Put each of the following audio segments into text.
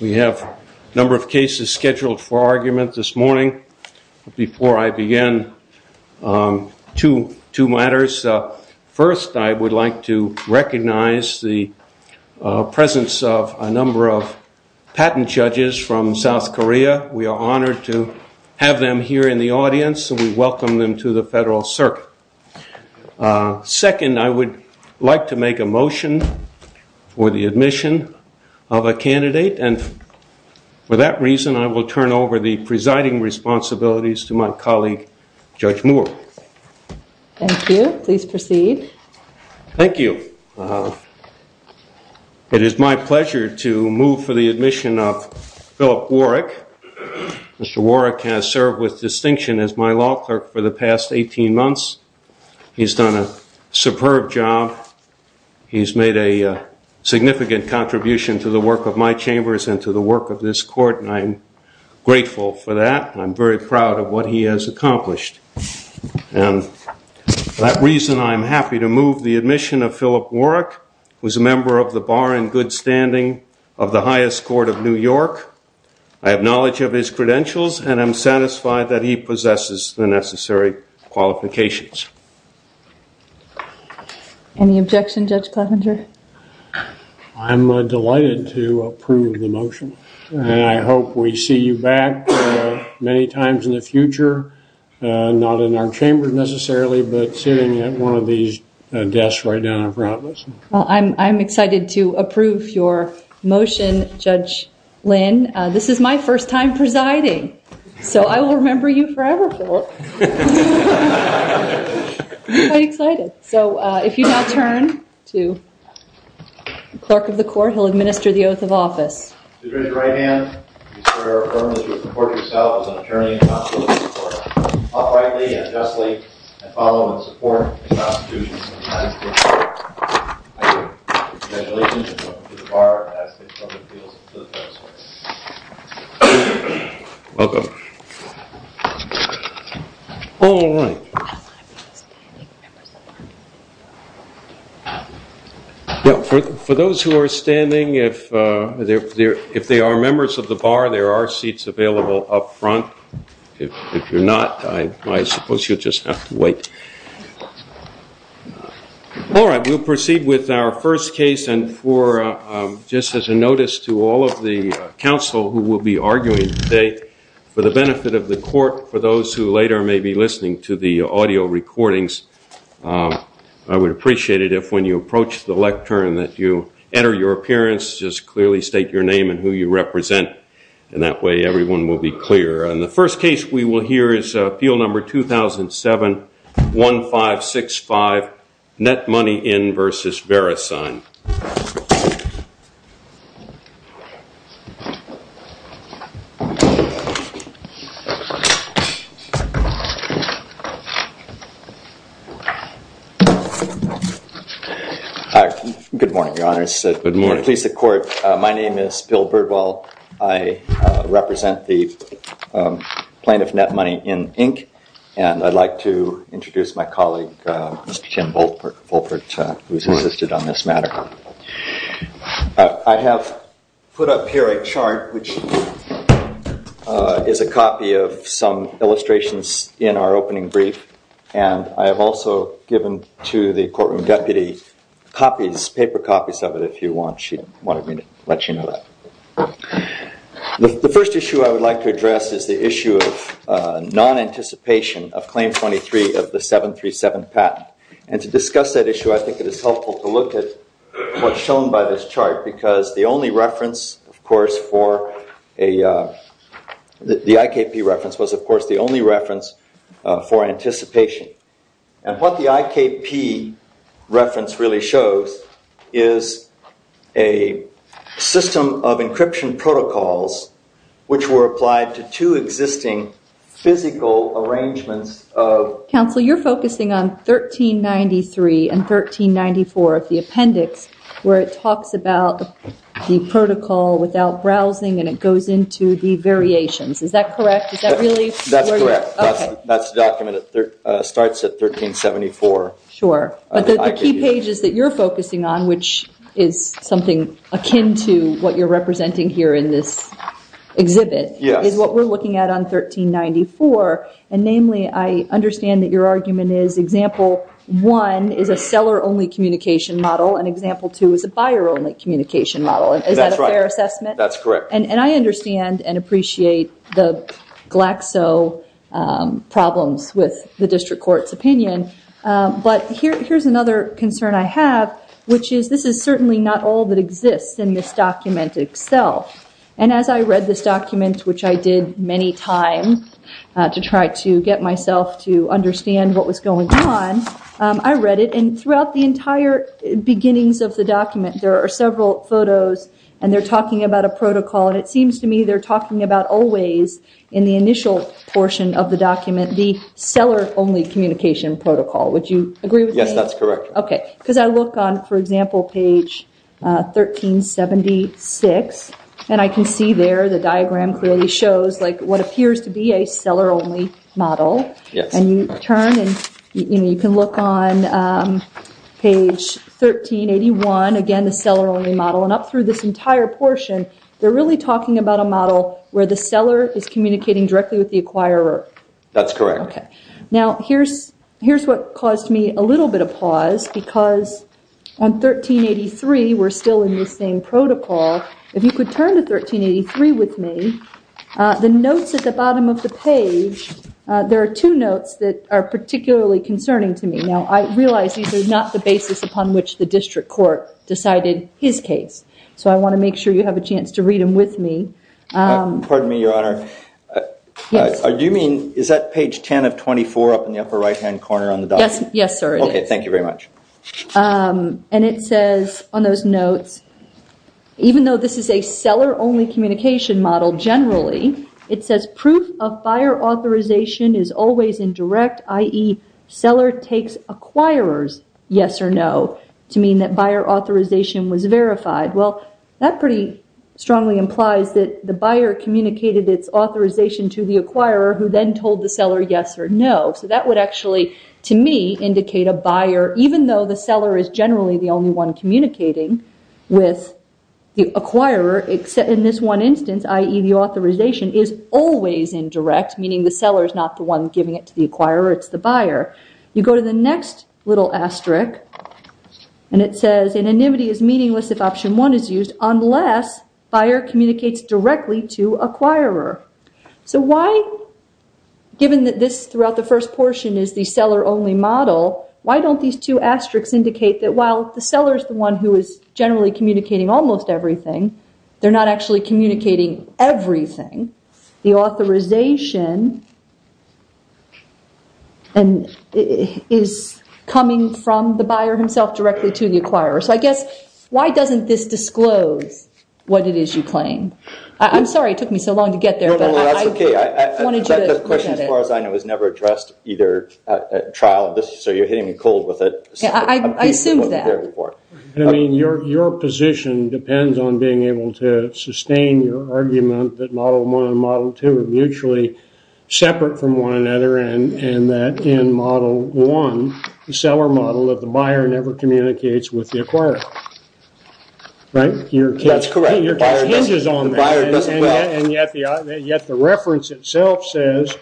We have a number of cases scheduled for argument this morning. Before I begin, two matters. First, I would like to recognize the presence of a number of patent judges from South Korea. We are honored to have them here in the audience, and we welcome them to the Federal Circuit. Second, I would like to make a motion for the admission of a candidate. And for that reason, I will turn over the presiding responsibilities to my colleague, Judge Moore. Thank you. Please proceed. Thank you. It is my pleasure to move for the admission of Philip Warwick. Mr. Warwick has served with distinction as my law clerk for the past 18 months. He's done a superb job. He's made a significant contribution to the work of my chambers and to the work of this court, and I'm grateful for that. I'm very proud of what he has accomplished. And for that reason, I'm happy to move the admission of Philip Warwick, who is a member of the Bar and Good Standing of the highest court of New York. I have knowledge of his credentials, and I'm satisfied that he possesses the necessary qualifications. Any objection, Judge Klaffinger? I'm delighted to approve the motion, and I hope we see you back many times in the future, not in our chambers necessarily, but sitting at one of these desks right down in front of us. Well, I'm excited to approve your motion, Judge Lynn. This is my first time presiding, so I will remember you forever, Philip. I'm quite excited. So if you now turn to the clerk of the court, he'll administer the oath of office. To the judge's right hand, we swear or affirm that you will report yourself as an attorney and consulate to the court, uprightly and justly, and follow in the support of the Constitution of the United States of America. I do. Congratulations, and welcome to the Bar, and I ask that you show your appeals to the clerk's court. Welcome. All right. Well, for those who are standing, if they are members of the Bar, there are seats available up front. If you're not, I suppose you'll just have to wait. All right. We'll proceed with our first case, and for just as a notice to all of the counsel who will be arguing today, for the benefit of the court, for those who later may be listening to the audio recordings, I would appreciate it if, when you approach the lectern, that you enter your appearance, just clearly state your name and who you represent, and that way everyone will be clear. And the first case we will hear is Appeal Number 2007-1565, Net Money In versus Verisign. Good morning, Your Honors. Good morning. Please, the court, my name is Bill Birdwell. I represent the plaintiff, Net Money In, Inc., and I'd like to introduce my colleague, Mr. Tim Volpert, who's assisted on this matter. I have put up here a chart, which is a copy of some illustrations in our opening brief, and I have also given to the courtroom deputy copies, paper copies of it, if you want. She wanted me to let you know that. The first issue I would like to address is the issue of non-anticipation of Claim 23 of the 737 patent. And to discuss that issue, I think it is helpful to look at what's shown by this chart, because the only reference, of course, for a, the IKP reference was, of course, the only reference for anticipation. And what the IKP reference really shows is a system of encryption protocols, which were applied to two existing physical arrangements of- where it talks about the protocol without browsing, and it goes into the variations. Is that correct? Is that really where you're- That's correct. Okay. That's the document that starts at 1374. Sure. But the key pages that you're focusing on, which is something akin to what you're representing here in this exhibit- Yes. Is what we're looking at on 1394. And namely, I understand that your argument is example one is a seller-only communication model, and example two is a buyer-only communication model. That's right. Is that a fair assessment? That's correct. And I understand and appreciate the Glaxo problems with the district court's opinion, but here's another concern I have, which is this is certainly not all that exists in this document itself. And as I read this document, which I did many times to try to get myself to understand what was going on, I read it, and throughout the entire beginnings of the document, there are several photos, and they're talking about a protocol, and it seems to me they're talking about always, in the initial portion of the document, the seller-only communication protocol. Would you agree with me? Yes, that's correct. Okay. Because I look on, for example, page 1376, and I can see there the diagram clearly shows what appears to be a seller-only model. Yes. And you turn, and you can look on page 1381, again, the seller-only model, and up through this entire portion, they're really talking about a model where the seller is communicating directly with the acquirer. That's correct. Okay. Now, here's what caused me a little bit of pause, because on 1383, we're still in the same protocol. If you could turn to 1383 with me, the notes at the bottom of the page, there are two notes that are particularly concerning to me. Now, I realize these are not the basis upon which the district court decided his case, so I want to make sure you have a chance to read them with me. Pardon me, Your Honor. Yes. Do you mean, is that page 10 of 24 up in the upper right-hand corner on the document? Yes, sir, it is. Okay. Thank you very much. And it says on those notes, even though this is a seller-only communication model generally, it says proof of buyer authorization is always indirect, i.e., seller takes acquirer's yes or no, to mean that buyer authorization was verified. Well, that pretty strongly implies that the buyer communicated its authorization to the acquirer, who then told the seller yes or no. So that would actually, to me, indicate a buyer, even though the seller is generally the only one communicating with the acquirer, in this one instance, i.e., the authorization is always indirect, meaning the seller is not the one giving it to the acquirer, it's the buyer. You go to the next little asterisk, and it says anonymity is meaningless if option one is used, unless buyer communicates directly to acquirer. So why, given that this throughout the first portion is the seller-only model, why don't these two asterisks indicate that while the seller is the one who is generally communicating almost everything, they're not actually communicating everything. The authorization is coming from the buyer himself directly to the acquirer. So I guess, why doesn't this disclose what it is you claim? I'm sorry it took me so long to get there. No, no, that's okay. The question, as far as I know, has never addressed either trial, so you're hitting me cold with it. I assumed that. I mean, your position depends on being able to sustain your argument that model one and model two are mutually separate from one another, and that in model one, the seller model of the buyer never communicates with the acquirer. Right? That's correct. Your case hinges on that, and yet the reference itself says,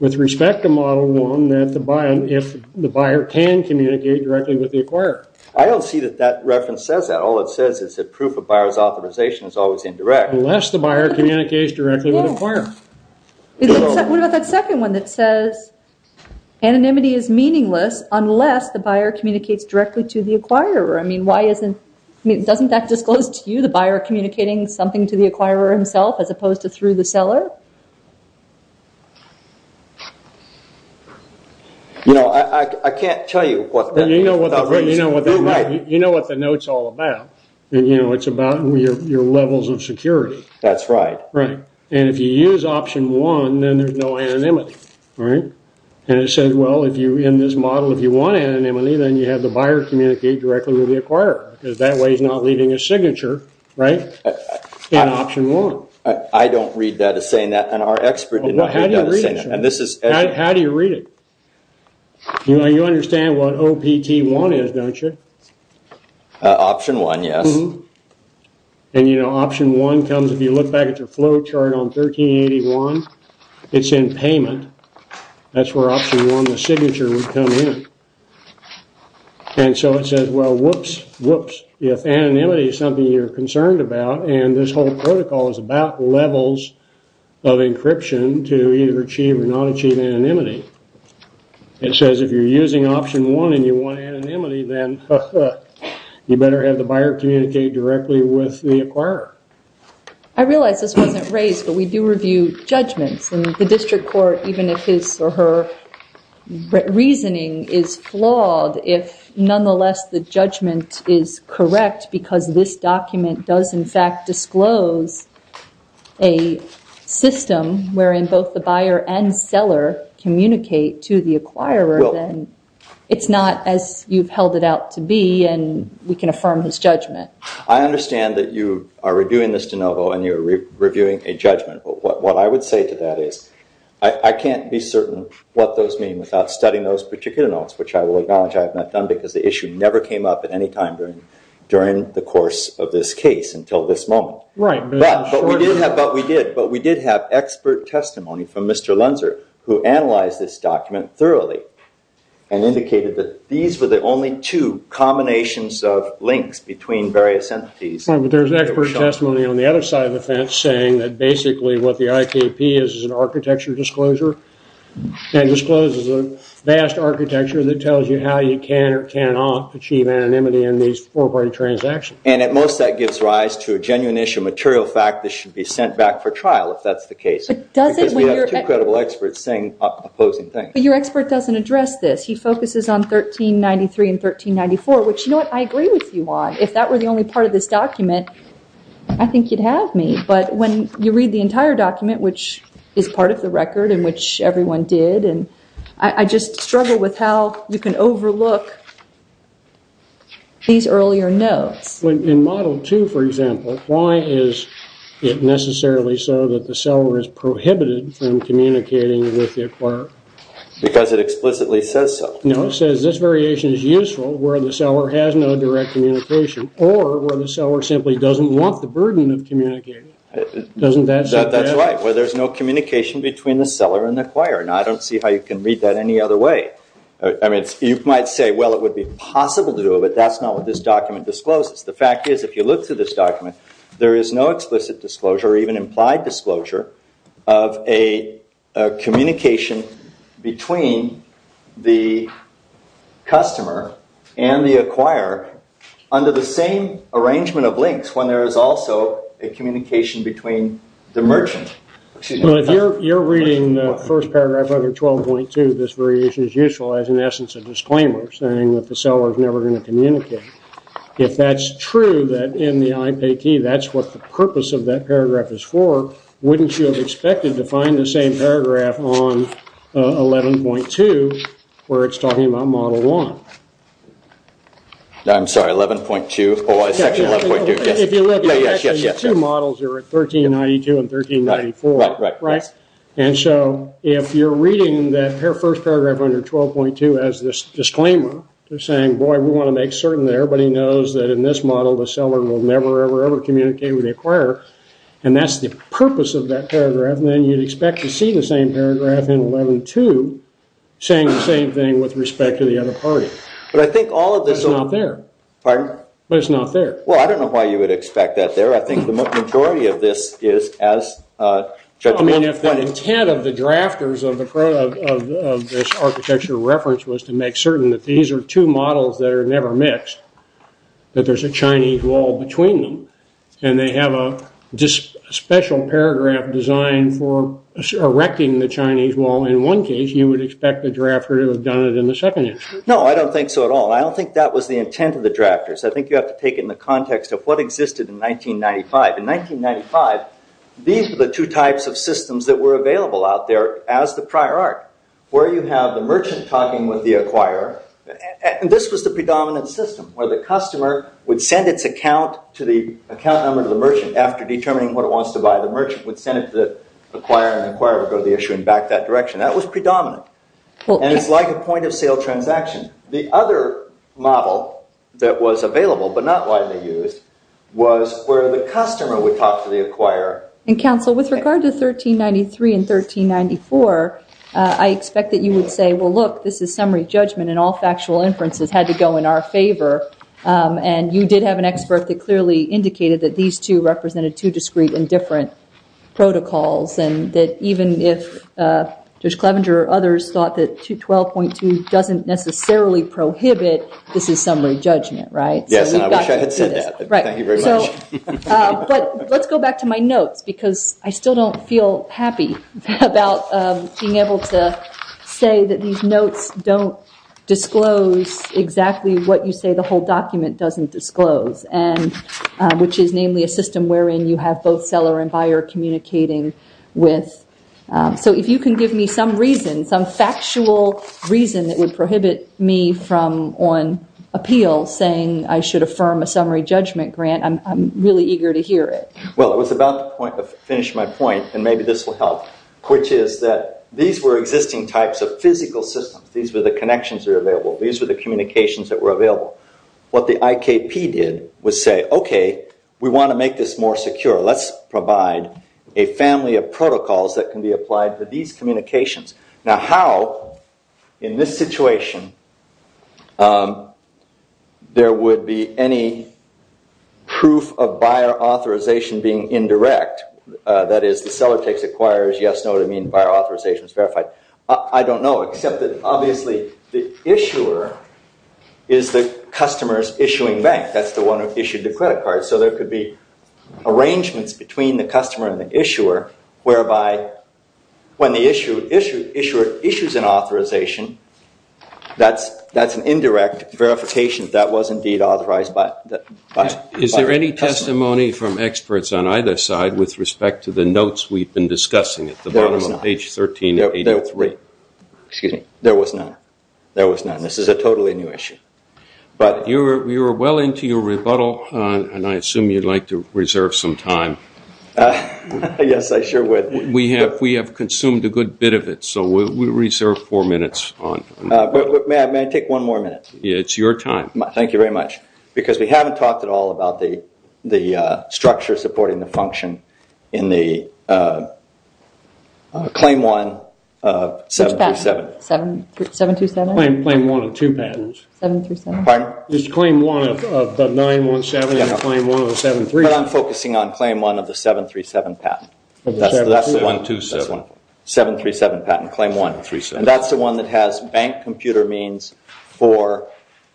with respect to model one, that the buyer can communicate directly with the acquirer. I don't see that that reference says that. All it says is that proof of buyer's authorization is always indirect. Unless the buyer communicates directly with acquirer. What about that second one that says anonymity is meaningless unless the buyer communicates directly to the acquirer? I mean, doesn't that disclose to you the buyer communicating something to the acquirer himself as opposed to through the seller? You know, I can't tell you. You know what the note's all about. It's about your levels of security. That's right. Right. And if you use option one, then there's no anonymity, right? And it says, well, in this model, if you want anonymity, then you have the buyer communicate directly with the acquirer, because that way he's not leaving a signature, right, in option one. I don't read that as saying that, and our expert did not read that as saying that. How do you read it? How do you read it? You understand what OPT1 is, don't you? Option one, yes. And, you know, option one comes, if you look back at your flow chart on 1381, it's in payment. That's where option one, the signature, would come in. And so it says, well, whoops, whoops, if anonymity is something you're concerned about, and this whole protocol is about levels of encryption to either achieve or not achieve anonymity, it says if you're using option one and you want anonymity, then you better have the buyer communicate directly with the acquirer. I realize this wasn't raised, but we do review judgments, and the district court, even if his or her reasoning is flawed, if nonetheless the judgment is correct because this document does, in fact, disclose a system wherein both the buyer and seller communicate to the acquirer, then it's not as you've held it out to be, and we can affirm his judgment. I understand that you are reviewing this de novo and you're reviewing a judgment. What I would say to that is I can't be certain what those mean without studying those particular notes, which I will acknowledge I have not done because the issue never came up at any time during the course of this case until this moment. Right. But we did have expert testimony from Mr. Lenzer who analyzed this document thoroughly and indicated that these were the only two combinations of links between various entities. Right, but there's expert testimony on the other side of the fence saying that basically what the IKP is is an architecture disclosure that discloses a vast architecture that tells you how you can or cannot achieve anonymity in these four-party transactions. And at most that gives rise to a genuine issue of material fact that should be sent back for trial if that's the case. Because we have two credible experts saying opposing things. But your expert doesn't address this. He focuses on 1393 and 1394, which you know what, I agree with you on. If that were the only part of this document, I think you'd have me. But when you read the entire document, which is part of the record and which everyone did, I just struggle with how you can overlook these earlier notes. In Model 2, for example, why is it necessarily so that the seller is prohibited from communicating with the acquirer? Because it explicitly says so. No, it says this variation is useful where the seller has no direct communication or where the seller simply doesn't want the burden of communicating. Doesn't that say that? That's right, where there's no communication between the seller and the acquirer. Now, I don't see how you can read that any other way. I mean, you might say, well, it would be possible to do it, but that's not what this document discloses. The fact is if you look through this document, there is no explicit disclosure or even implied disclosure of a communication between the customer and the acquirer under the same arrangement of links when there is also a communication between the merchant. Well, if you're reading the first paragraph under 12.2, this variation is useful as, in essence, a disclaimer, saying that the seller is never going to communicate. If that's true, that in the IPAT, that's what the purpose of that paragraph is for, wouldn't you have expected to find the same paragraph on 11.2 where it's talking about Model 1? I'm sorry, 11.2. Section 11.2, yes. If you look at the two models, they're at 1392 and 1394. Right, right. And so if you're reading that first paragraph under 12.2 as this disclaimer, they're saying, boy, we want to make certain that everybody knows that in this model, the seller will never, ever, ever communicate with the acquirer, and that's the purpose of that paragraph, and then you'd expect to see the same paragraph in 11.2 saying the same thing with respect to the other party. But I think all of this… It's not there. Pardon? But it's not there. Well, I don't know why you would expect that there. I think the majority of this is as… I mean, if the intent of the drafters of this architecture reference was to make certain that these are two models that are never mixed, that there's a Chinese wall between them, and they have a special paragraph designed for erecting the Chinese wall, in one case you would expect the drafter to have done it in the second instance. No, I don't think so at all. I don't think that was the intent of the drafters. I think you have to take it in the context of what existed in 1995. In 1995, these were the two types of systems that were available out there as the prior art, where you have the merchant talking with the acquirer, and this was the predominant system, where the customer would send its account number to the merchant after determining what it wants to buy. The merchant would send it to the acquirer, and the acquirer would go to the issuer and back that direction. That was predominant, and it's like a point-of-sale transaction. The other model that was available, but not widely used, was where the customer would talk to the acquirer. And, counsel, with regard to 1393 and 1394, I expect that you would say, well, look, this is summary judgment, and all factual inferences had to go in our favor, and you did have an expert that clearly indicated that these two represented two discrete and different protocols, and that even if Judge Clevenger or others thought that 12.2 doesn't necessarily prohibit, this is summary judgment, right? Yes, and I wish I had said that. Thank you very much. But let's go back to my notes, because I still don't feel happy about being able to say that these notes don't disclose exactly what you say the whole document doesn't disclose, which is namely a system wherein you have both seller and buyer communicating with. So if you can give me some reason, some factual reason that would prohibit me from, on appeal, saying I should affirm a summary judgment grant, I'm really eager to hear it. Well, I was about to finish my point, and maybe this will help, which is that these were existing types of physical systems. These were the connections that were available. These were the communications that were available. What the IKP did was say, okay, we want to make this more secure. Let's provide a family of protocols that can be applied to these communications. Now how, in this situation, there would be any proof of buyer authorization being indirect, that is the seller takes, acquires, yes, no, to mean buyer authorization is verified. I don't know, except that obviously the issuer is the customer's issuing bank. That's the one who issued the credit card. So there could be arrangements between the customer and the issuer, whereby when the issuer issues an authorization, that's an indirect verification that was indeed authorized by the buyer. Is there any testimony from experts on either side with respect to the notes we've been discussing at the bottom of page 13? There was none. This is a totally new issue. We were well into your rebuttal, and I assume you'd like to reserve some time. Yes, I sure would. We have consumed a good bit of it, so we'll reserve four minutes. May I take one more minute? It's your time. Thank you very much. Because we haven't talked at all about the structure supporting the function in the Claim 1, 737. 727? Claim 1 and 2 patents. 737. Pardon? It's Claim 1 of the 917 and Claim 1 of the 737. But I'm focusing on Claim 1 of the 737 patent. 737. 737 patent, Claim 1. 737. That's the one that has bank computer means for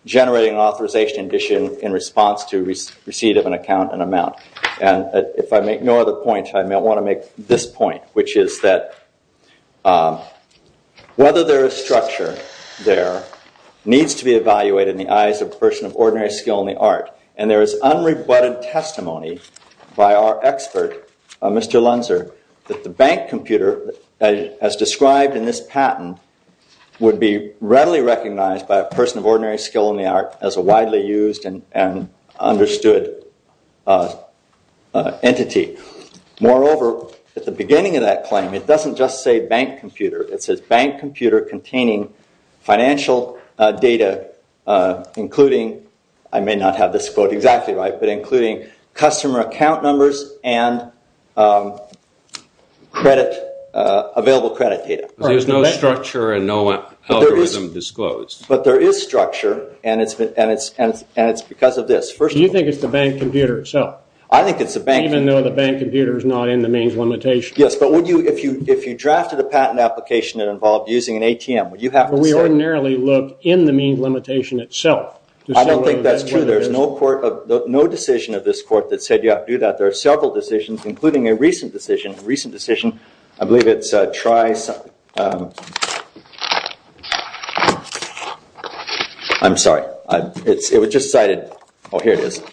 generating authorization in response to receipt of an account and amount. If I make no other point, I want to make this point, which is that whether there is structure there needs to be evaluated in the eyes of a person of ordinary skill and the art. And there is unrebutted testimony by our expert, Mr. Lunzer, that the bank computer as described in this patent would be readily recognized by a person of ordinary skill and the art as a widely used and understood entity. Moreover, at the beginning of that claim, it doesn't just say bank computer. It says bank computer containing financial data including, I may not have this quote exactly right, but including customer account numbers and available credit data. There's no structure and no algorithm disclosed. But there is structure and it's because of this. Do you think it's the bank computer itself? I think it's the bank. Even though the bank computer is not in the means limitation? Yes. But if you drafted a patent application that involved using an ATM, would you have to say? We ordinarily look in the means limitation itself. I don't think that's true. There's no decision of this court that said you have to do that. There are several decisions, including a recent decision. A recent decision, I believe it's Trice. I'm sorry. It was just cited. Oh, here it is.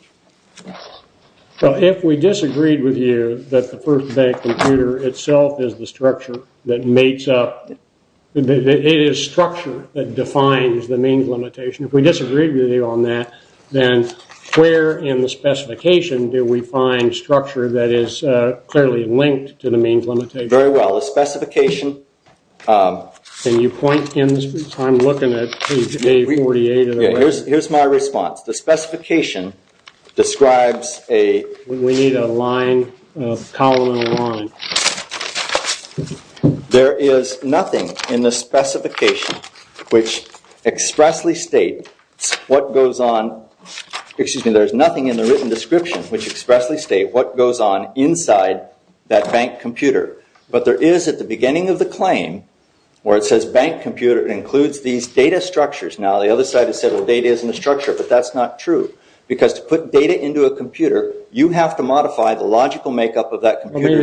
If we disagreed with you that the first bank computer itself is the structure that makes up, it is structure that defines the means limitation, if we disagreed with you on that, then where in the specification do we find structure that is clearly linked to the means limitation? Very well, the specification. Can you point in? I'm looking at page A48. Here's my response. The specification describes a. We need a line, a column and a line. There is nothing in the specification which expressly states what goes on. Excuse me. There's nothing in the written description which expressly states what goes on inside that bank computer. But there is at the beginning of the claim where it says bank computer includes these data structures. Now, the other side has said the data is in the structure, but that's not true. Because to put data into a computer, you have to modify the logical makeup of that computer.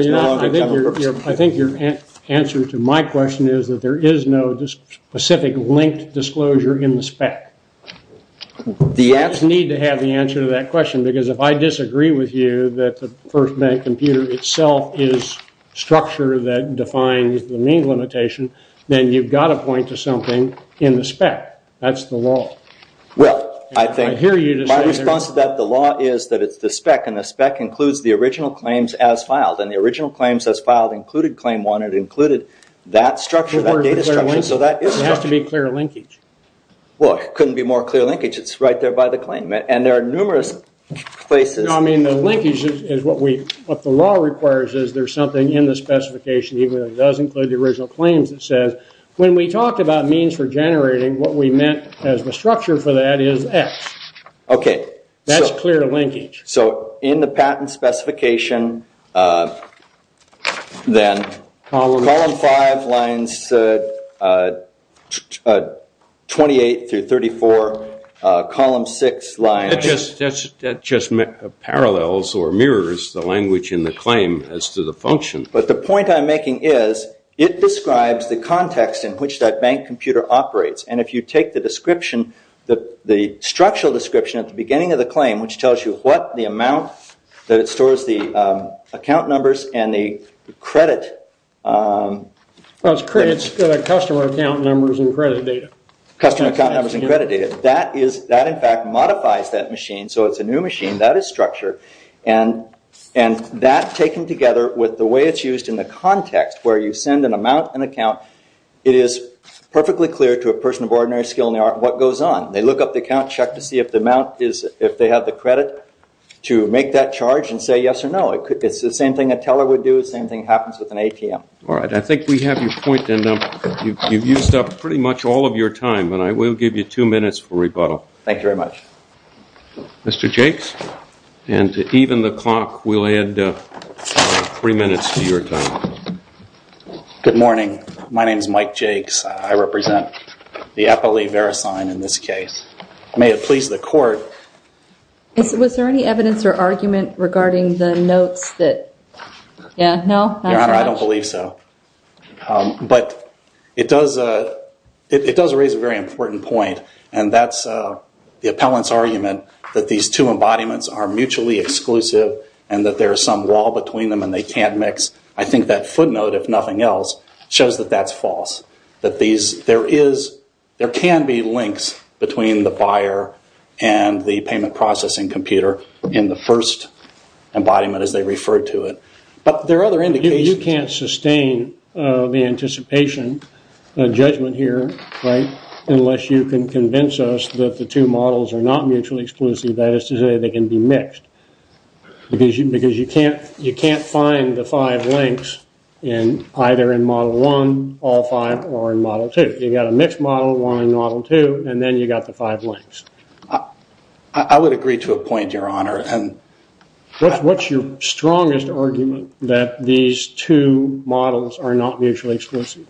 I think your answer to my question is that there is no specific linked disclosure in the spec. You just need to have the answer to that question, because if I disagree with you that the first bank computer itself is structure that defines the mean limitation, then you've got to point to something in the spec. That's the law. Well, I think my response to that, the law is that it's the spec, and the spec includes the original claims as filed. And the original claims as filed included claim one. It included that structure, that data structure. So that is structure. It has to be clear linkage. Well, it couldn't be more clear linkage. It's right there by the claim. And there are numerous places. No, I mean the linkage is what the law requires is there's something in the specification. It does include the original claims. It says when we talk about means for generating, what we meant as the structure for that is X. Okay. That's clear linkage. So in the patent specification, then column five lines 28 through 34, column six lines. That just parallels or mirrors the language in the claim as to the function. But the point I'm making is it describes the context in which that bank computer operates. And if you take the description, the structural description at the beginning of the claim, which tells you what the amount that it stores the account numbers and the credit. It's customer account numbers and credit data. Customer account numbers and credit data. That, in fact, modifies that machine. So it's a new machine. That is structure. And that taken together with the way it's used in the context where you send an amount, an account, it is perfectly clear to a person of ordinary skill in the art what goes on. They look up the account, check to see if they have the credit to make that charge and say yes or no. It's the same thing a teller would do. The same thing happens with an ATM. All right. I think we have your point. And you've used up pretty much all of your time. And I will give you two minutes for rebuttal. Thank you very much. Mr. Jakes. And to even the clock, we'll add three minutes to your time. Good morning. My name is Mike Jakes. I represent the Appellee Verisign in this case. May it please the Court. Was there any evidence or argument regarding the notes that, yeah, no, not so much? Your Honor, I don't believe so. But it does raise a very important point. And that's the appellant's argument that these two embodiments are mutually exclusive and that there is some wall between them and they can't mix. I think that footnote, if nothing else, shows that that's false, that there can be links between the buyer and the payment processing computer in the first embodiment as they refer to it. But there are other indications. You can't sustain the anticipation judgment here, right, unless you can convince us that the two models are not mutually exclusive, that is to say they can be mixed. Because you can't find the five links either in model one, all five, or in model two. You've got a mixed model, one in model two, and then you've got the five links. I would agree to a point, Your Honor. What's your strongest argument that these two models are not mutually exclusive?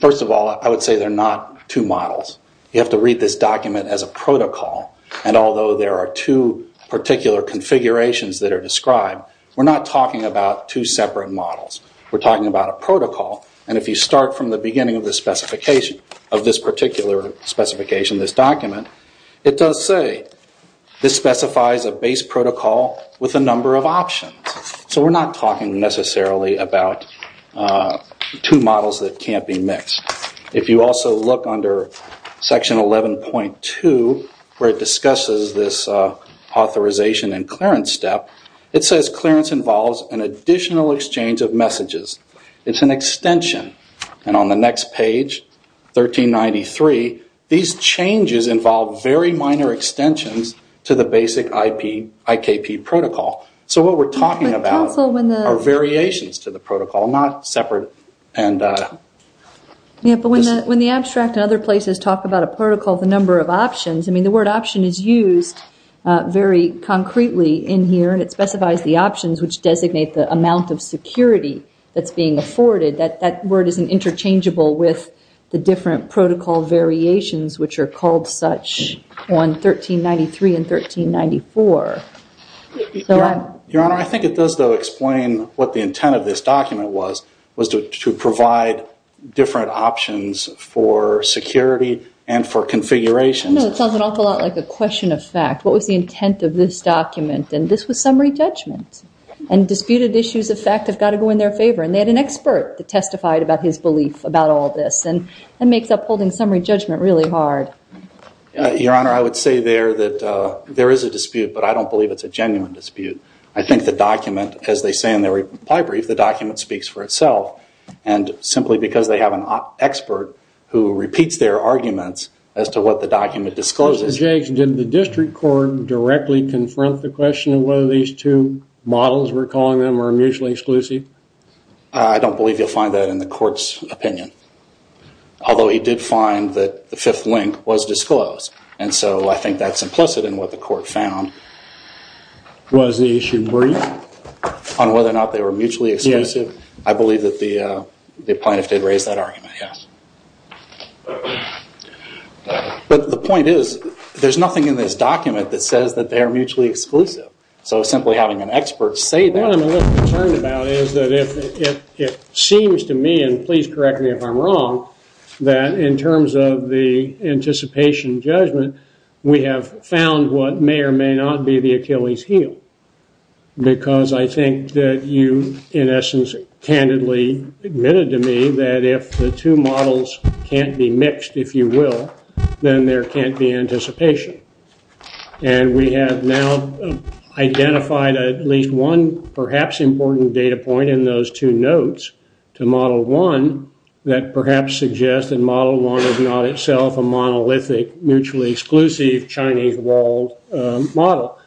First of all, I would say they're not two models. You have to read this document as a protocol. And although there are two particular configurations that are described, we're not talking about two separate models. We're talking about a protocol. And if you start from the beginning of this specification, of this particular specification, this document, it does say this specifies a base protocol with a number of options. So we're not talking necessarily about two models that can't be mixed. If you also look under section 11.2, where it discusses this authorization and clearance step, it says clearance involves an additional exchange of messages. It's an extension. And on the next page, 1393, these changes involve very minor extensions to the basic IKP protocol. So what we're talking about are variations to the protocol, not separate. When the abstract and other places talk about a protocol, the number of options, the word option is used very concretely in here. It specifies the options which designate the amount of security that's being afforded. That word isn't interchangeable with the different protocol variations, which are called such on 1393 and 1394. Your Honor, I think it does, though, explain what the intent of this document was, was to provide different options for security and for configurations. No, it sounds an awful lot like a question of fact. What was the intent of this document? And this was summary judgment. And disputed issues of fact have got to go in their favor. And they had an expert that testified about his belief about all this. And that makes up holding summary judgment really hard. Your Honor, I would say there that there is a dispute, but I don't believe it's a genuine dispute. I think the document, as they say in their reply brief, the document speaks for itself. And simply because they have an expert who repeats their arguments as to what the document discloses. Judge, did the district court directly confront the question of whether these two models we're calling them are mutually exclusive? I don't believe you'll find that in the court's opinion. Although he did find that the fifth link was disclosed. And so I think that's implicit in what the court found. Was the issue brief? On whether or not they were mutually exclusive. I believe that the plaintiff did raise that argument, yes. But the point is, there's nothing in this document that says that they are mutually exclusive. So simply having an expert say that. What I'm a little concerned about is that if it seems to me, and please correct me if I'm wrong, that in terms of the anticipation judgment, we have found what may or may not be the Achilles heel. Because I think that you, in essence, candidly admitted to me that if the two models can't be mixed, if you will, then there can't be anticipation. And we have now identified at least one perhaps important data point in those two notes to model one that perhaps suggests that model one is not itself a monolithic, mutually exclusive Chinese walled model.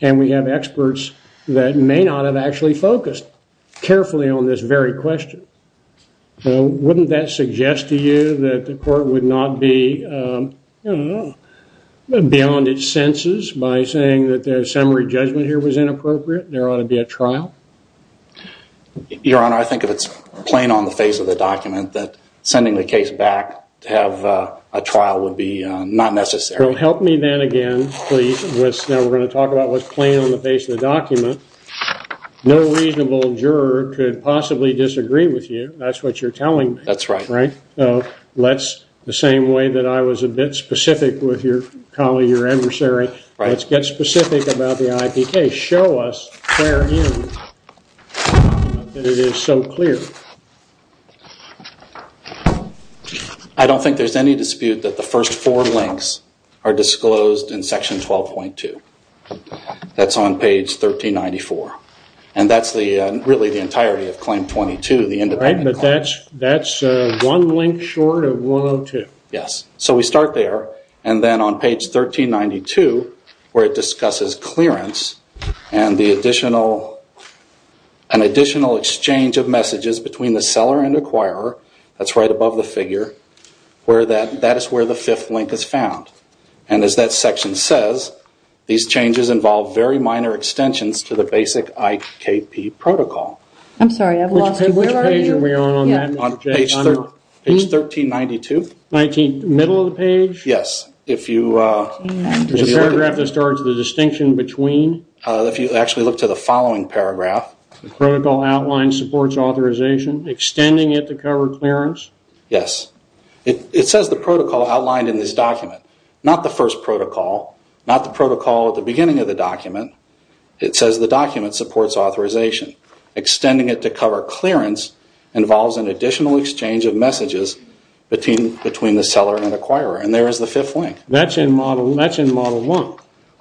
And we have experts that may not have actually focused carefully on this very question. Wouldn't that suggest to you that the court would not be, I don't know, beyond its senses by saying that the summary judgment here was inappropriate and there ought to be a trial? Your Honor, I think if it's plain on the face of the document, that sending the case back to have a trial would be not necessary. Well, help me then again, please, now we're going to talk about what's plain on the face of the document. No reasonable juror could possibly disagree with you. That's what you're telling me. That's right. Let's, the same way that I was a bit specific with your colleague, your adversary, let's get specific about the IP case. Show us where it is so clear. I don't think there's any dispute that the first four links are disclosed in section 12.2. That's on page 1394. That's one link short of 102. Yes. So we start there and then on page 1392, where it discusses clearance and the additional, an additional exchange of messages between the seller and acquirer, that's right above the figure, that is where the fifth link is found. And as that section says, these changes involve very minor extensions to the basic IKP protocol. I'm sorry, I've lost you. Which page are we on on that? On page 1392. Middle of the page? Yes. There's a paragraph that starts the distinction between? If you actually look to the following paragraph. Protocol outline supports authorization, extending it to cover clearance? Yes. It says the protocol outlined in this document, not the first protocol, not the protocol at the beginning of the document. It says the document supports authorization. Extending it to cover clearance involves an additional exchange of messages between the seller and acquirer. And there is the fifth link. That's in Model 1.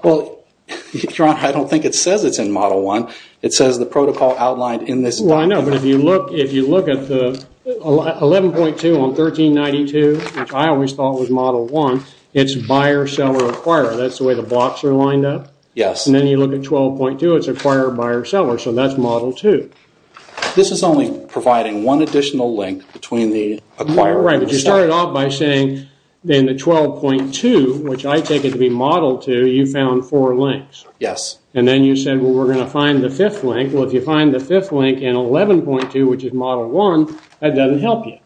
Well, I don't think it says it's in Model 1. It says the protocol outlined in this document. Well, I know, but if you look at 11.2 on 1392, which I always thought was Model 1, it's buyer, seller, acquirer. That's the way the blocks are lined up? Yes. And then you look at 12.2, it's acquirer, buyer, seller. So that's Model 2. This is only providing one additional link between the acquirer and the seller. Right, but you started off by saying in the 12.2, which I take it to be Model 2, you found four links. Yes. And then you said, well, we're going to find the fifth link. Well, if you find the fifth link in 11.2, which is Model 1, that doesn't help you.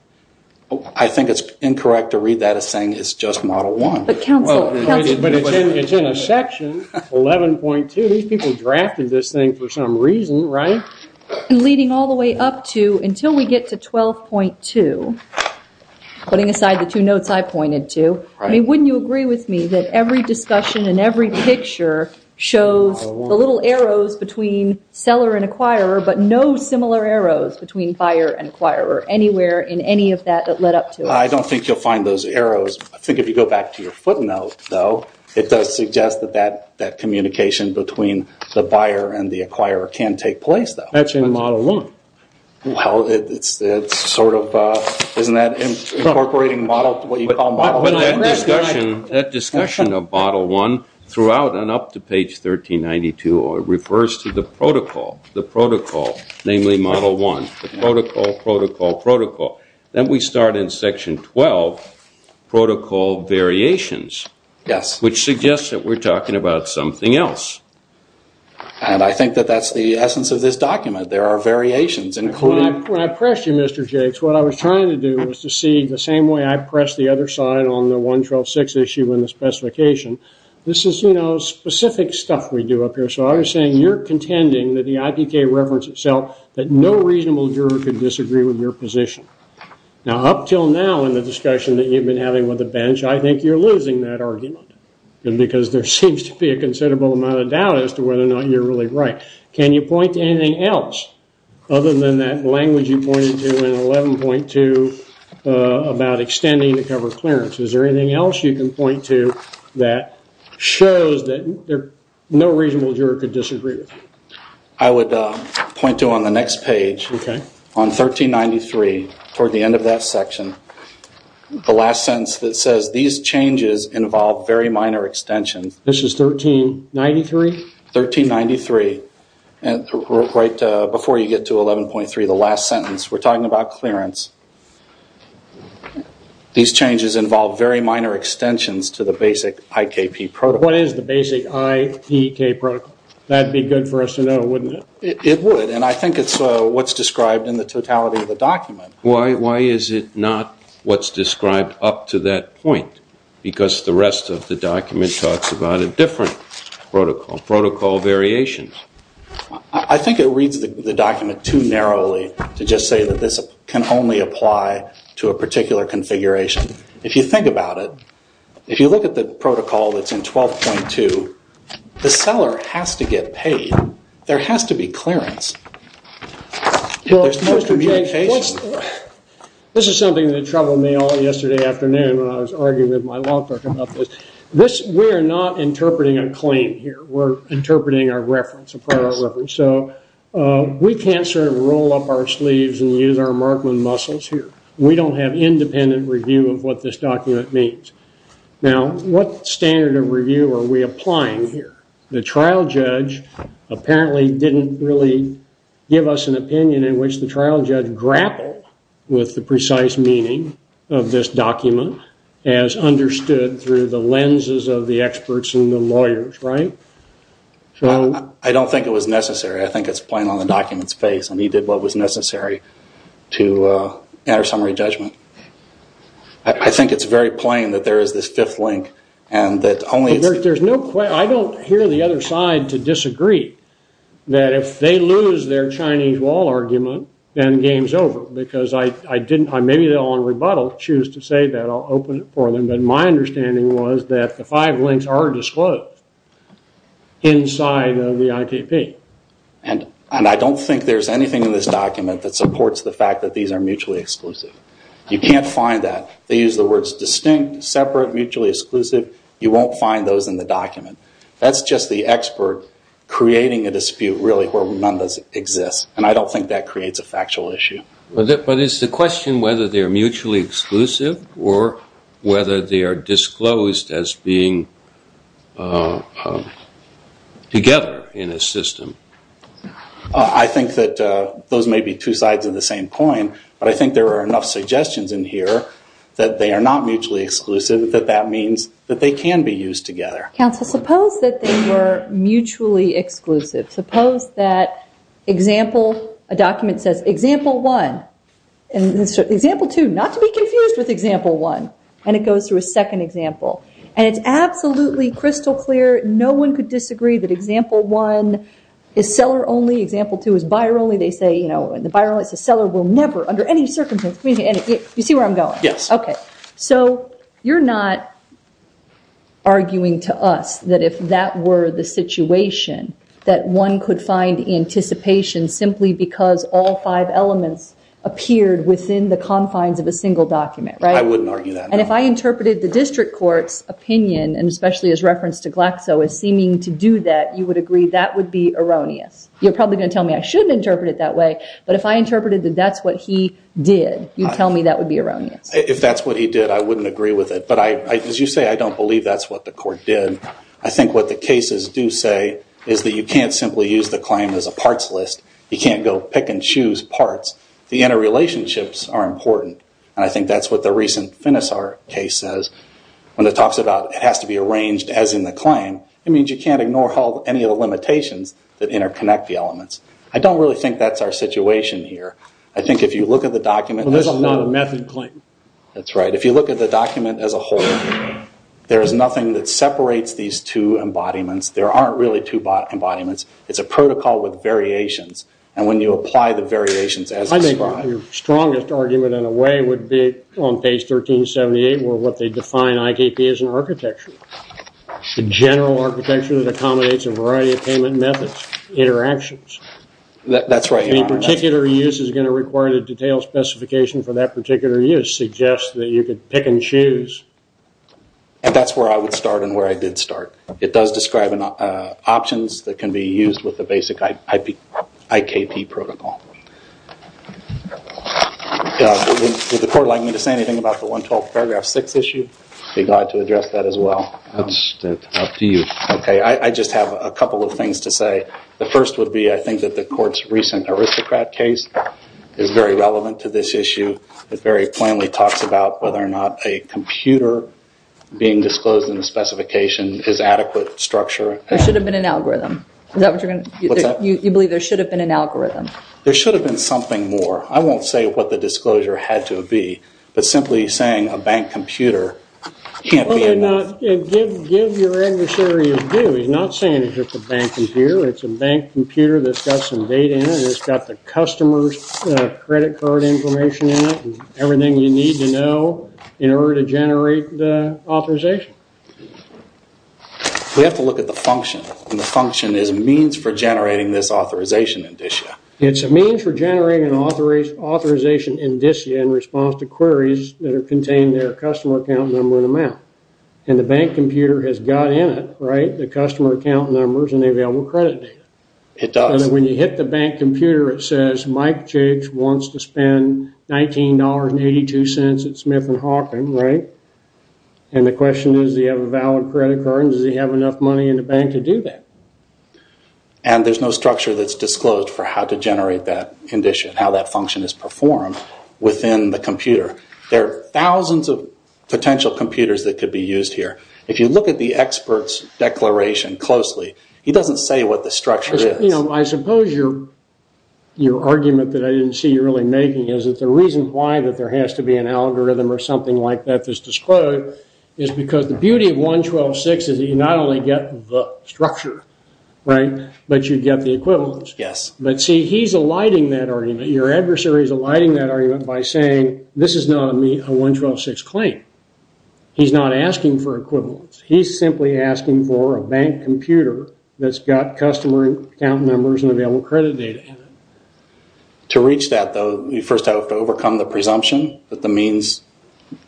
I think it's incorrect to read that as saying it's just Model 1. But it's in a section, 11.2. These people drafted this thing for some reason, right? Leading all the way up to until we get to 12.2, putting aside the two notes I pointed to, I mean, wouldn't you agree with me that every discussion and every picture shows the little arrows between seller and acquirer, but no similar arrows between buyer and acquirer anywhere in any of that that led up to it? I don't think you'll find those arrows. I think if you go back to your footnote, though, it does suggest that that communication between the buyer and the acquirer can take place, though. That's in Model 1. Well, isn't that incorporating what you call Model 1? That discussion of Model 1 throughout and up to page 1392 refers to the protocol, namely Model 1. The protocol, protocol, protocol. Then we start in section 12, protocol variations. Yes. Which suggests that we're talking about something else. And I think that that's the essence of this document. There are variations. When I pressed you, Mr. Jakes, what I was trying to do was to see the same way I pressed the other side on the 112.6 issue in the specification. This is, you know, specific stuff we do up here. So I was saying you're contending that the IPK reference itself, that no reasonable juror could disagree with your position. Now, up until now in the discussion that you've been having with the bench, I think you're losing that argument because there seems to be a considerable amount of doubt as to whether or not you're really right. Can you point to anything else other than that language you pointed to in 11.2 about extending the cover clearance? Is there anything else you can point to that shows that no reasonable juror could disagree with you? I would point to on the next page, on 1393, toward the end of that section, the last sentence that says, these changes involve very minor extensions. This is 1393? 1393. Right before you get to 11.3, the last sentence, we're talking about clearance. These changes involve very minor extensions to the basic IKP protocol. What is the basic IPK protocol? That would be good for us to know, wouldn't it? It would, and I think it's what's described in the totality of the document. Why is it not what's described up to that point? Because the rest of the document talks about a different protocol, protocol variations. I think it reads the document too narrowly to just say that this can only apply to a particular configuration. If you think about it, if you look at the protocol that's in 12.2, the seller has to get paid. There has to be clearance. Well, Mr. Jay, this is something that troubled me all yesterday afternoon when I was arguing with my law clerk about this. We are not interpreting a claim here. We're interpreting a reference, a prior reference. So we can't sort of roll up our sleeves and use our Markman muscles here. We don't have independent review of what this document means. Now, what standard of review are we applying here? The trial judge apparently didn't really give us an opinion in which the trial judge grappled with the precise meaning of this document as understood through the lenses of the experts and the lawyers, right? I don't think it was necessary. I think it's plain on the document's face, and he did what was necessary to enter summary judgment. I think it's very plain that there is this fifth link and that only it's... I don't hear the other side to disagree that if they lose their Chinese wall argument, then the game's over. Because I didn't... Maybe they'll on rebuttal choose to say that. I'll open it for them. But my understanding was that the five links are disclosed inside of the ITP. And I don't think there's anything in this document that supports the fact that these are mutually exclusive. You can't find that. They use the words distinct, separate, mutually exclusive. You won't find those in the document. That's just the expert creating a dispute really where none does exist, and I don't think that creates a factual issue. But is the question whether they are mutually exclusive or whether they are disclosed as being together in a system? I think that those may be two sides of the same coin, but I think there are enough suggestions in here that they are not mutually exclusive, that that means that they can be used together. Counsel, suppose that they were mutually exclusive. Suppose that a document says, example one, and example two, not to be confused with example one, and it goes through a second example. And it's absolutely crystal clear, no one could disagree, that example one is seller only, example two is buyer only. They say, you know, in the buyer only, it says, seller will never under any circumstances... You see where I'm going? Yes. Okay. So you're not arguing to us that if that were the situation, that one could find anticipation simply because all five elements appeared within the confines of a single document, right? I wouldn't argue that. And if I interpreted the district court's opinion, and especially his reference to Glaxo as seeming to do that, you would agree that would be erroneous. You're probably going to tell me I shouldn't interpret it that way, but if I interpreted that that's what he did, you'd tell me that would be erroneous. If that's what he did, I wouldn't agree with it. But as you say, I don't believe that's what the court did. I think what the cases do say is that you can't simply use the claim as a parts list. You can't go pick and choose parts. The interrelationships are important, and I think that's what the recent Finisar case says. When it talks about it has to be arranged as in the claim, it means you can't ignore any of the limitations that interconnect the elements. I don't really think that's our situation here. I think if you look at the document... That's right. If you look at the document as a whole, there's nothing that separates these two embodiments. There aren't really two embodiments. It's a protocol with variations, and when you apply the variations as described... I think your strongest argument in a way would be on page 1378 where they define IKP as an architecture, a general architecture that accommodates a variety of payment methods, interactions. That's right. Any particular use is going to require a detailed specification for that particular use suggests that you could pick and choose. That's where I would start and where I did start. It does describe options that can be used with the basic IKP protocol. Would the court like me to say anything about the 112 paragraph 6 issue? I'd be glad to address that as well. That's up to you. I just have a couple of things to say. The first would be I think that the court's recent aristocrat case is very relevant to this issue. It very plainly talks about whether or not a computer being disclosed in the specification is adequate structure. There should have been an algorithm. Is that what you're going to... What's that? You believe there should have been an algorithm. There should have been something more. I won't say what the disclosure had to be, but simply saying a bank computer can't be enough. Give your adversary a view. He's not saying it's just a bank computer. It's a bank computer that's got some data in it. It's got the customer's credit card information in it and everything you need to know in order to generate the authorization. We have to look at the function. The function is a means for generating this authorization indicia. It's a means for generating an authorization indicia in response to queries that contain their customer account number and amount. The bank computer has got in it the customer account numbers and available credit data. It does. When you hit the bank computer, it says, Mike Jiggs wants to spend $19.82 at Smith and Hawkins. The question is, does he have a valid credit card and does he have enough money in the bank to do that? There's no structure that's disclosed for how to generate that indicia and how that function is performed within the computer. There are thousands of potential computers that could be used here. If you look at the expert's declaration closely, he doesn't say what the structure is. I suppose your argument that I didn't see you really making is that the reason why that there has to be an algorithm or something like that that's disclosed is because the beauty of 112.6 is that you not only get the structure, but you get the equivalence. But see, he's alighting that argument. Your adversary is alighting that argument by saying, this is not a 112.6 claim. He's not asking for equivalence. He's simply asking for a bank computer that's got customer account numbers and available credit data in it. To reach that, though, you first have to overcome the presumption that the means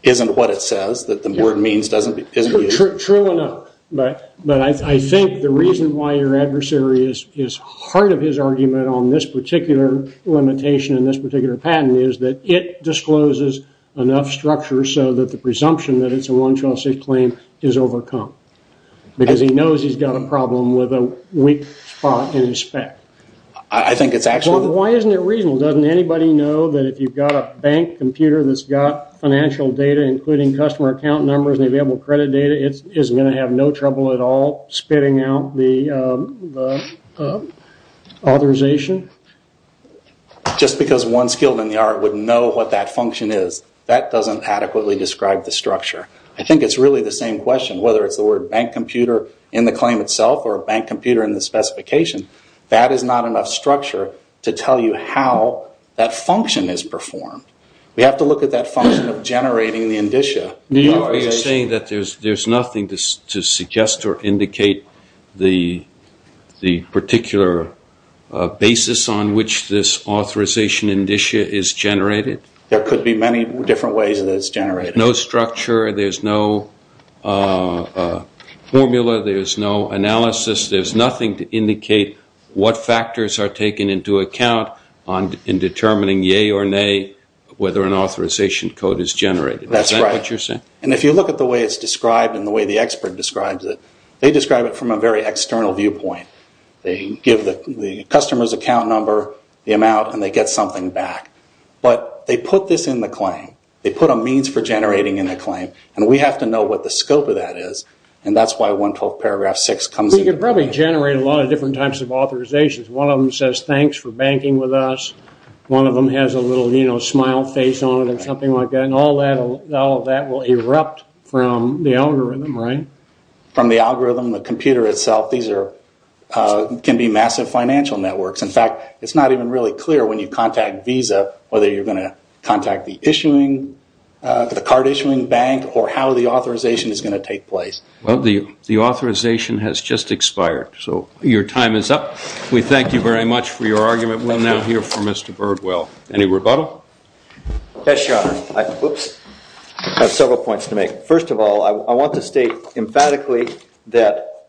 isn't what it says, that the word means isn't used. True enough, but I think the reason why your adversary is part of his argument on this particular limitation and this particular patent is that it discloses enough structure so that the presumption that it's a 112.6 claim is overcome because he knows he's got a problem with a weak spot in his spec. Why isn't it reasonable? Doesn't anybody know that if you've got a bank computer that's got financial data, including customer account numbers and available credit data, it's going to have no trouble at all spitting out the authorization? Just because one skilled in the art would know what that function is, that doesn't adequately describe the structure. I think it's really the same question, whether it's the word bank computer in the claim itself or a bank computer in the specification, that is not enough structure to tell you how that function is performed. We have to look at that function of generating the indicia. Are you saying that there's nothing to suggest or indicate the particular basis on which this authorization indicia is generated? There could be many different ways that it's generated. No structure, there's no formula, there's no analysis, there's nothing to indicate what factors are taken into account in determining yea or nay whether an authorization code is generated. That's right. Is that what you're saying? If you look at the way it's described and the way the expert describes it, they describe it from a very external viewpoint. They give the customer's account number, the amount, and they get something back. But they put this in the claim. They put a means for generating in the claim, and we have to know what the scope of that is, and that's why 112 paragraph 6 comes into play. We could probably generate a lot of different types of authorizations. One of them says, thanks for banking with us. One of them has a little smile face on it or something like that, and all of that will erupt from the algorithm, right? From the algorithm, the computer itself. These can be massive financial networks. In fact, it's not even really clear when you contact Visa whether you're going to contact the card issuing bank or how the authorization is going to take place. Well, the authorization has just expired, so your time is up. We thank you very much for your argument. We'll now hear from Mr. Birdwell. Any rebuttal? Yes, Your Honor. I have several points to make. First of all, I want to state emphatically that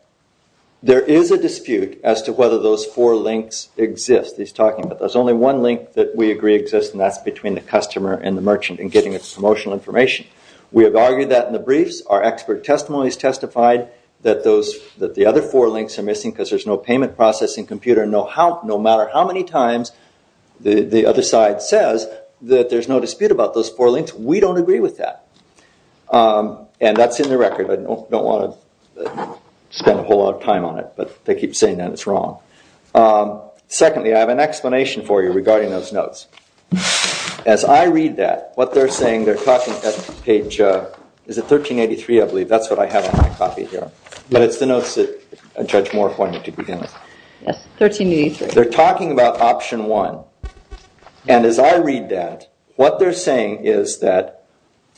there is a dispute as to whether those four links exist. There's only one link that we agree exists, and that's between the customer and the merchant in getting its promotional information. We have argued that in the briefs. Our expert testimonies testified that the other four links are missing because there's no payment processing computer. No matter how many times the other side says that there's no dispute about those four links, we don't agree with that. And that's in the record. I don't want to spend a whole lot of time on it, but they keep saying that it's wrong. Secondly, I have an explanation for you regarding those notes. As I read that, what they're saying, they're talking at page 1383, I believe. That's what I have in my copy here. But it's the notes that Judge Moore pointed to begin with. Yes, 1383. They're talking about option one, and as I read that, what they're saying is that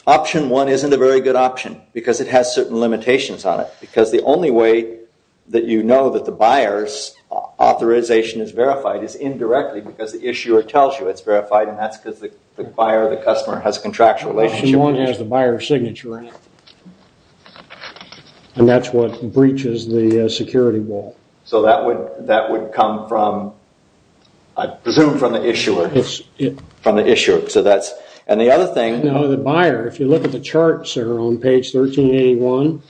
option one isn't a very good option because it has certain limitations on it, because the only way that you know that the buyer's authorization is verified is indirectly because the issuer tells you it's verified, and that's because the buyer or the customer has a contractual relationship. Option one has the buyer's signature in it, and that's what breaches the security wall. So that would come from, I presume, from the issuer. From the issuer, so that's... And the other thing... No, the buyer, if you look at the charts there on page 1381,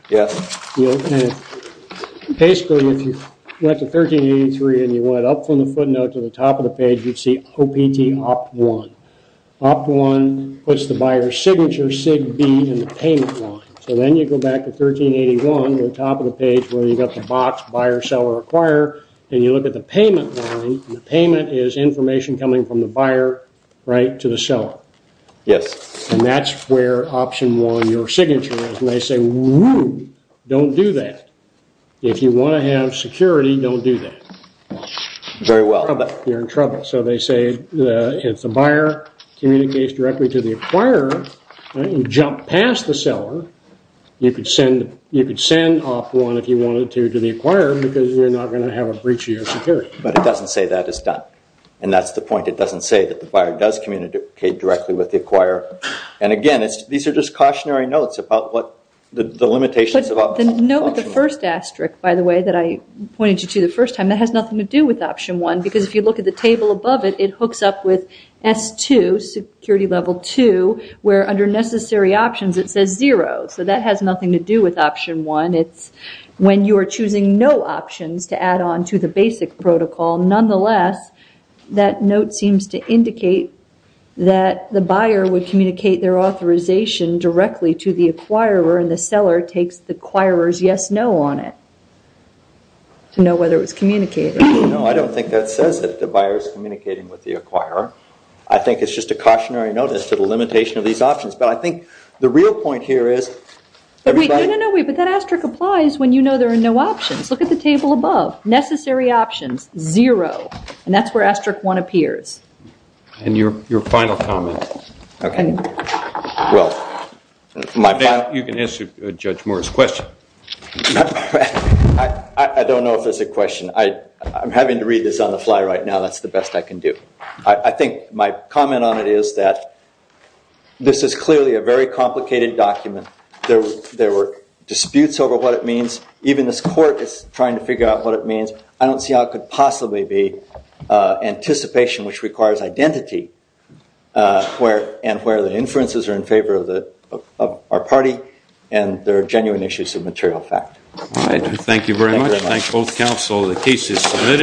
basically if you went to 1383 and you went up from the footnote to the top of the page, you'd see OPT OPT1. OPT1 puts the buyer's signature, SIGB, in the payment line. So then you go back to 1381, go to the top of the page where you've got the box, buyer, seller, acquire, and you look at the payment line, and the payment is information coming from the buyer right to the seller. Yes. And that's where option one, your signature is. And they say, woo, don't do that. If you want to have security, don't do that. Very well. You're in trouble. So they say if the buyer communicates directly to the acquirer, you jump past the seller, you could send OPT1 if you wanted to to the acquirer because you're not going to have a breach of your security. But it doesn't say that is done, and that's the point. It doesn't say that the buyer does communicate directly with the acquirer. And, again, these are just cautionary notes about the limitations of options. The note with the first asterisk, by the way, that I pointed you to the first time, that has nothing to do with option one because if you look at the table above it, it hooks up with S2, security level two, where under necessary options it says zero. So that has nothing to do with option one. When you are choosing no options to add on to the basic protocol, nonetheless, that note seems to indicate that the buyer would communicate their authorization directly to the acquirer, and the seller takes the acquirer's yes-no on it to know whether it was communicated. No, I don't think that says that the buyer is communicating with the acquirer. I think it's just a cautionary note as to the limitation of these options. But I think the real point here is everybody... No, no, no, wait, but that asterisk applies when you know there are no options. Look at the table above. Necessary options, zero, and that's where asterisk one appears. And your final comment. Okay. Well, my final... You can answer Judge Moore's question. I don't know if there's a question. I'm having to read this on the fly right now. That's the best I can do. I think my comment on it is that this is clearly a very complicated document. There were disputes over what it means. Even this court is trying to figure out what it means. I don't see how it could possibly be anticipation which requires identity and where the inferences are in favor of our party and there are genuine issues of material fact. Thank you very much. Thank both counsel. The case is submitted.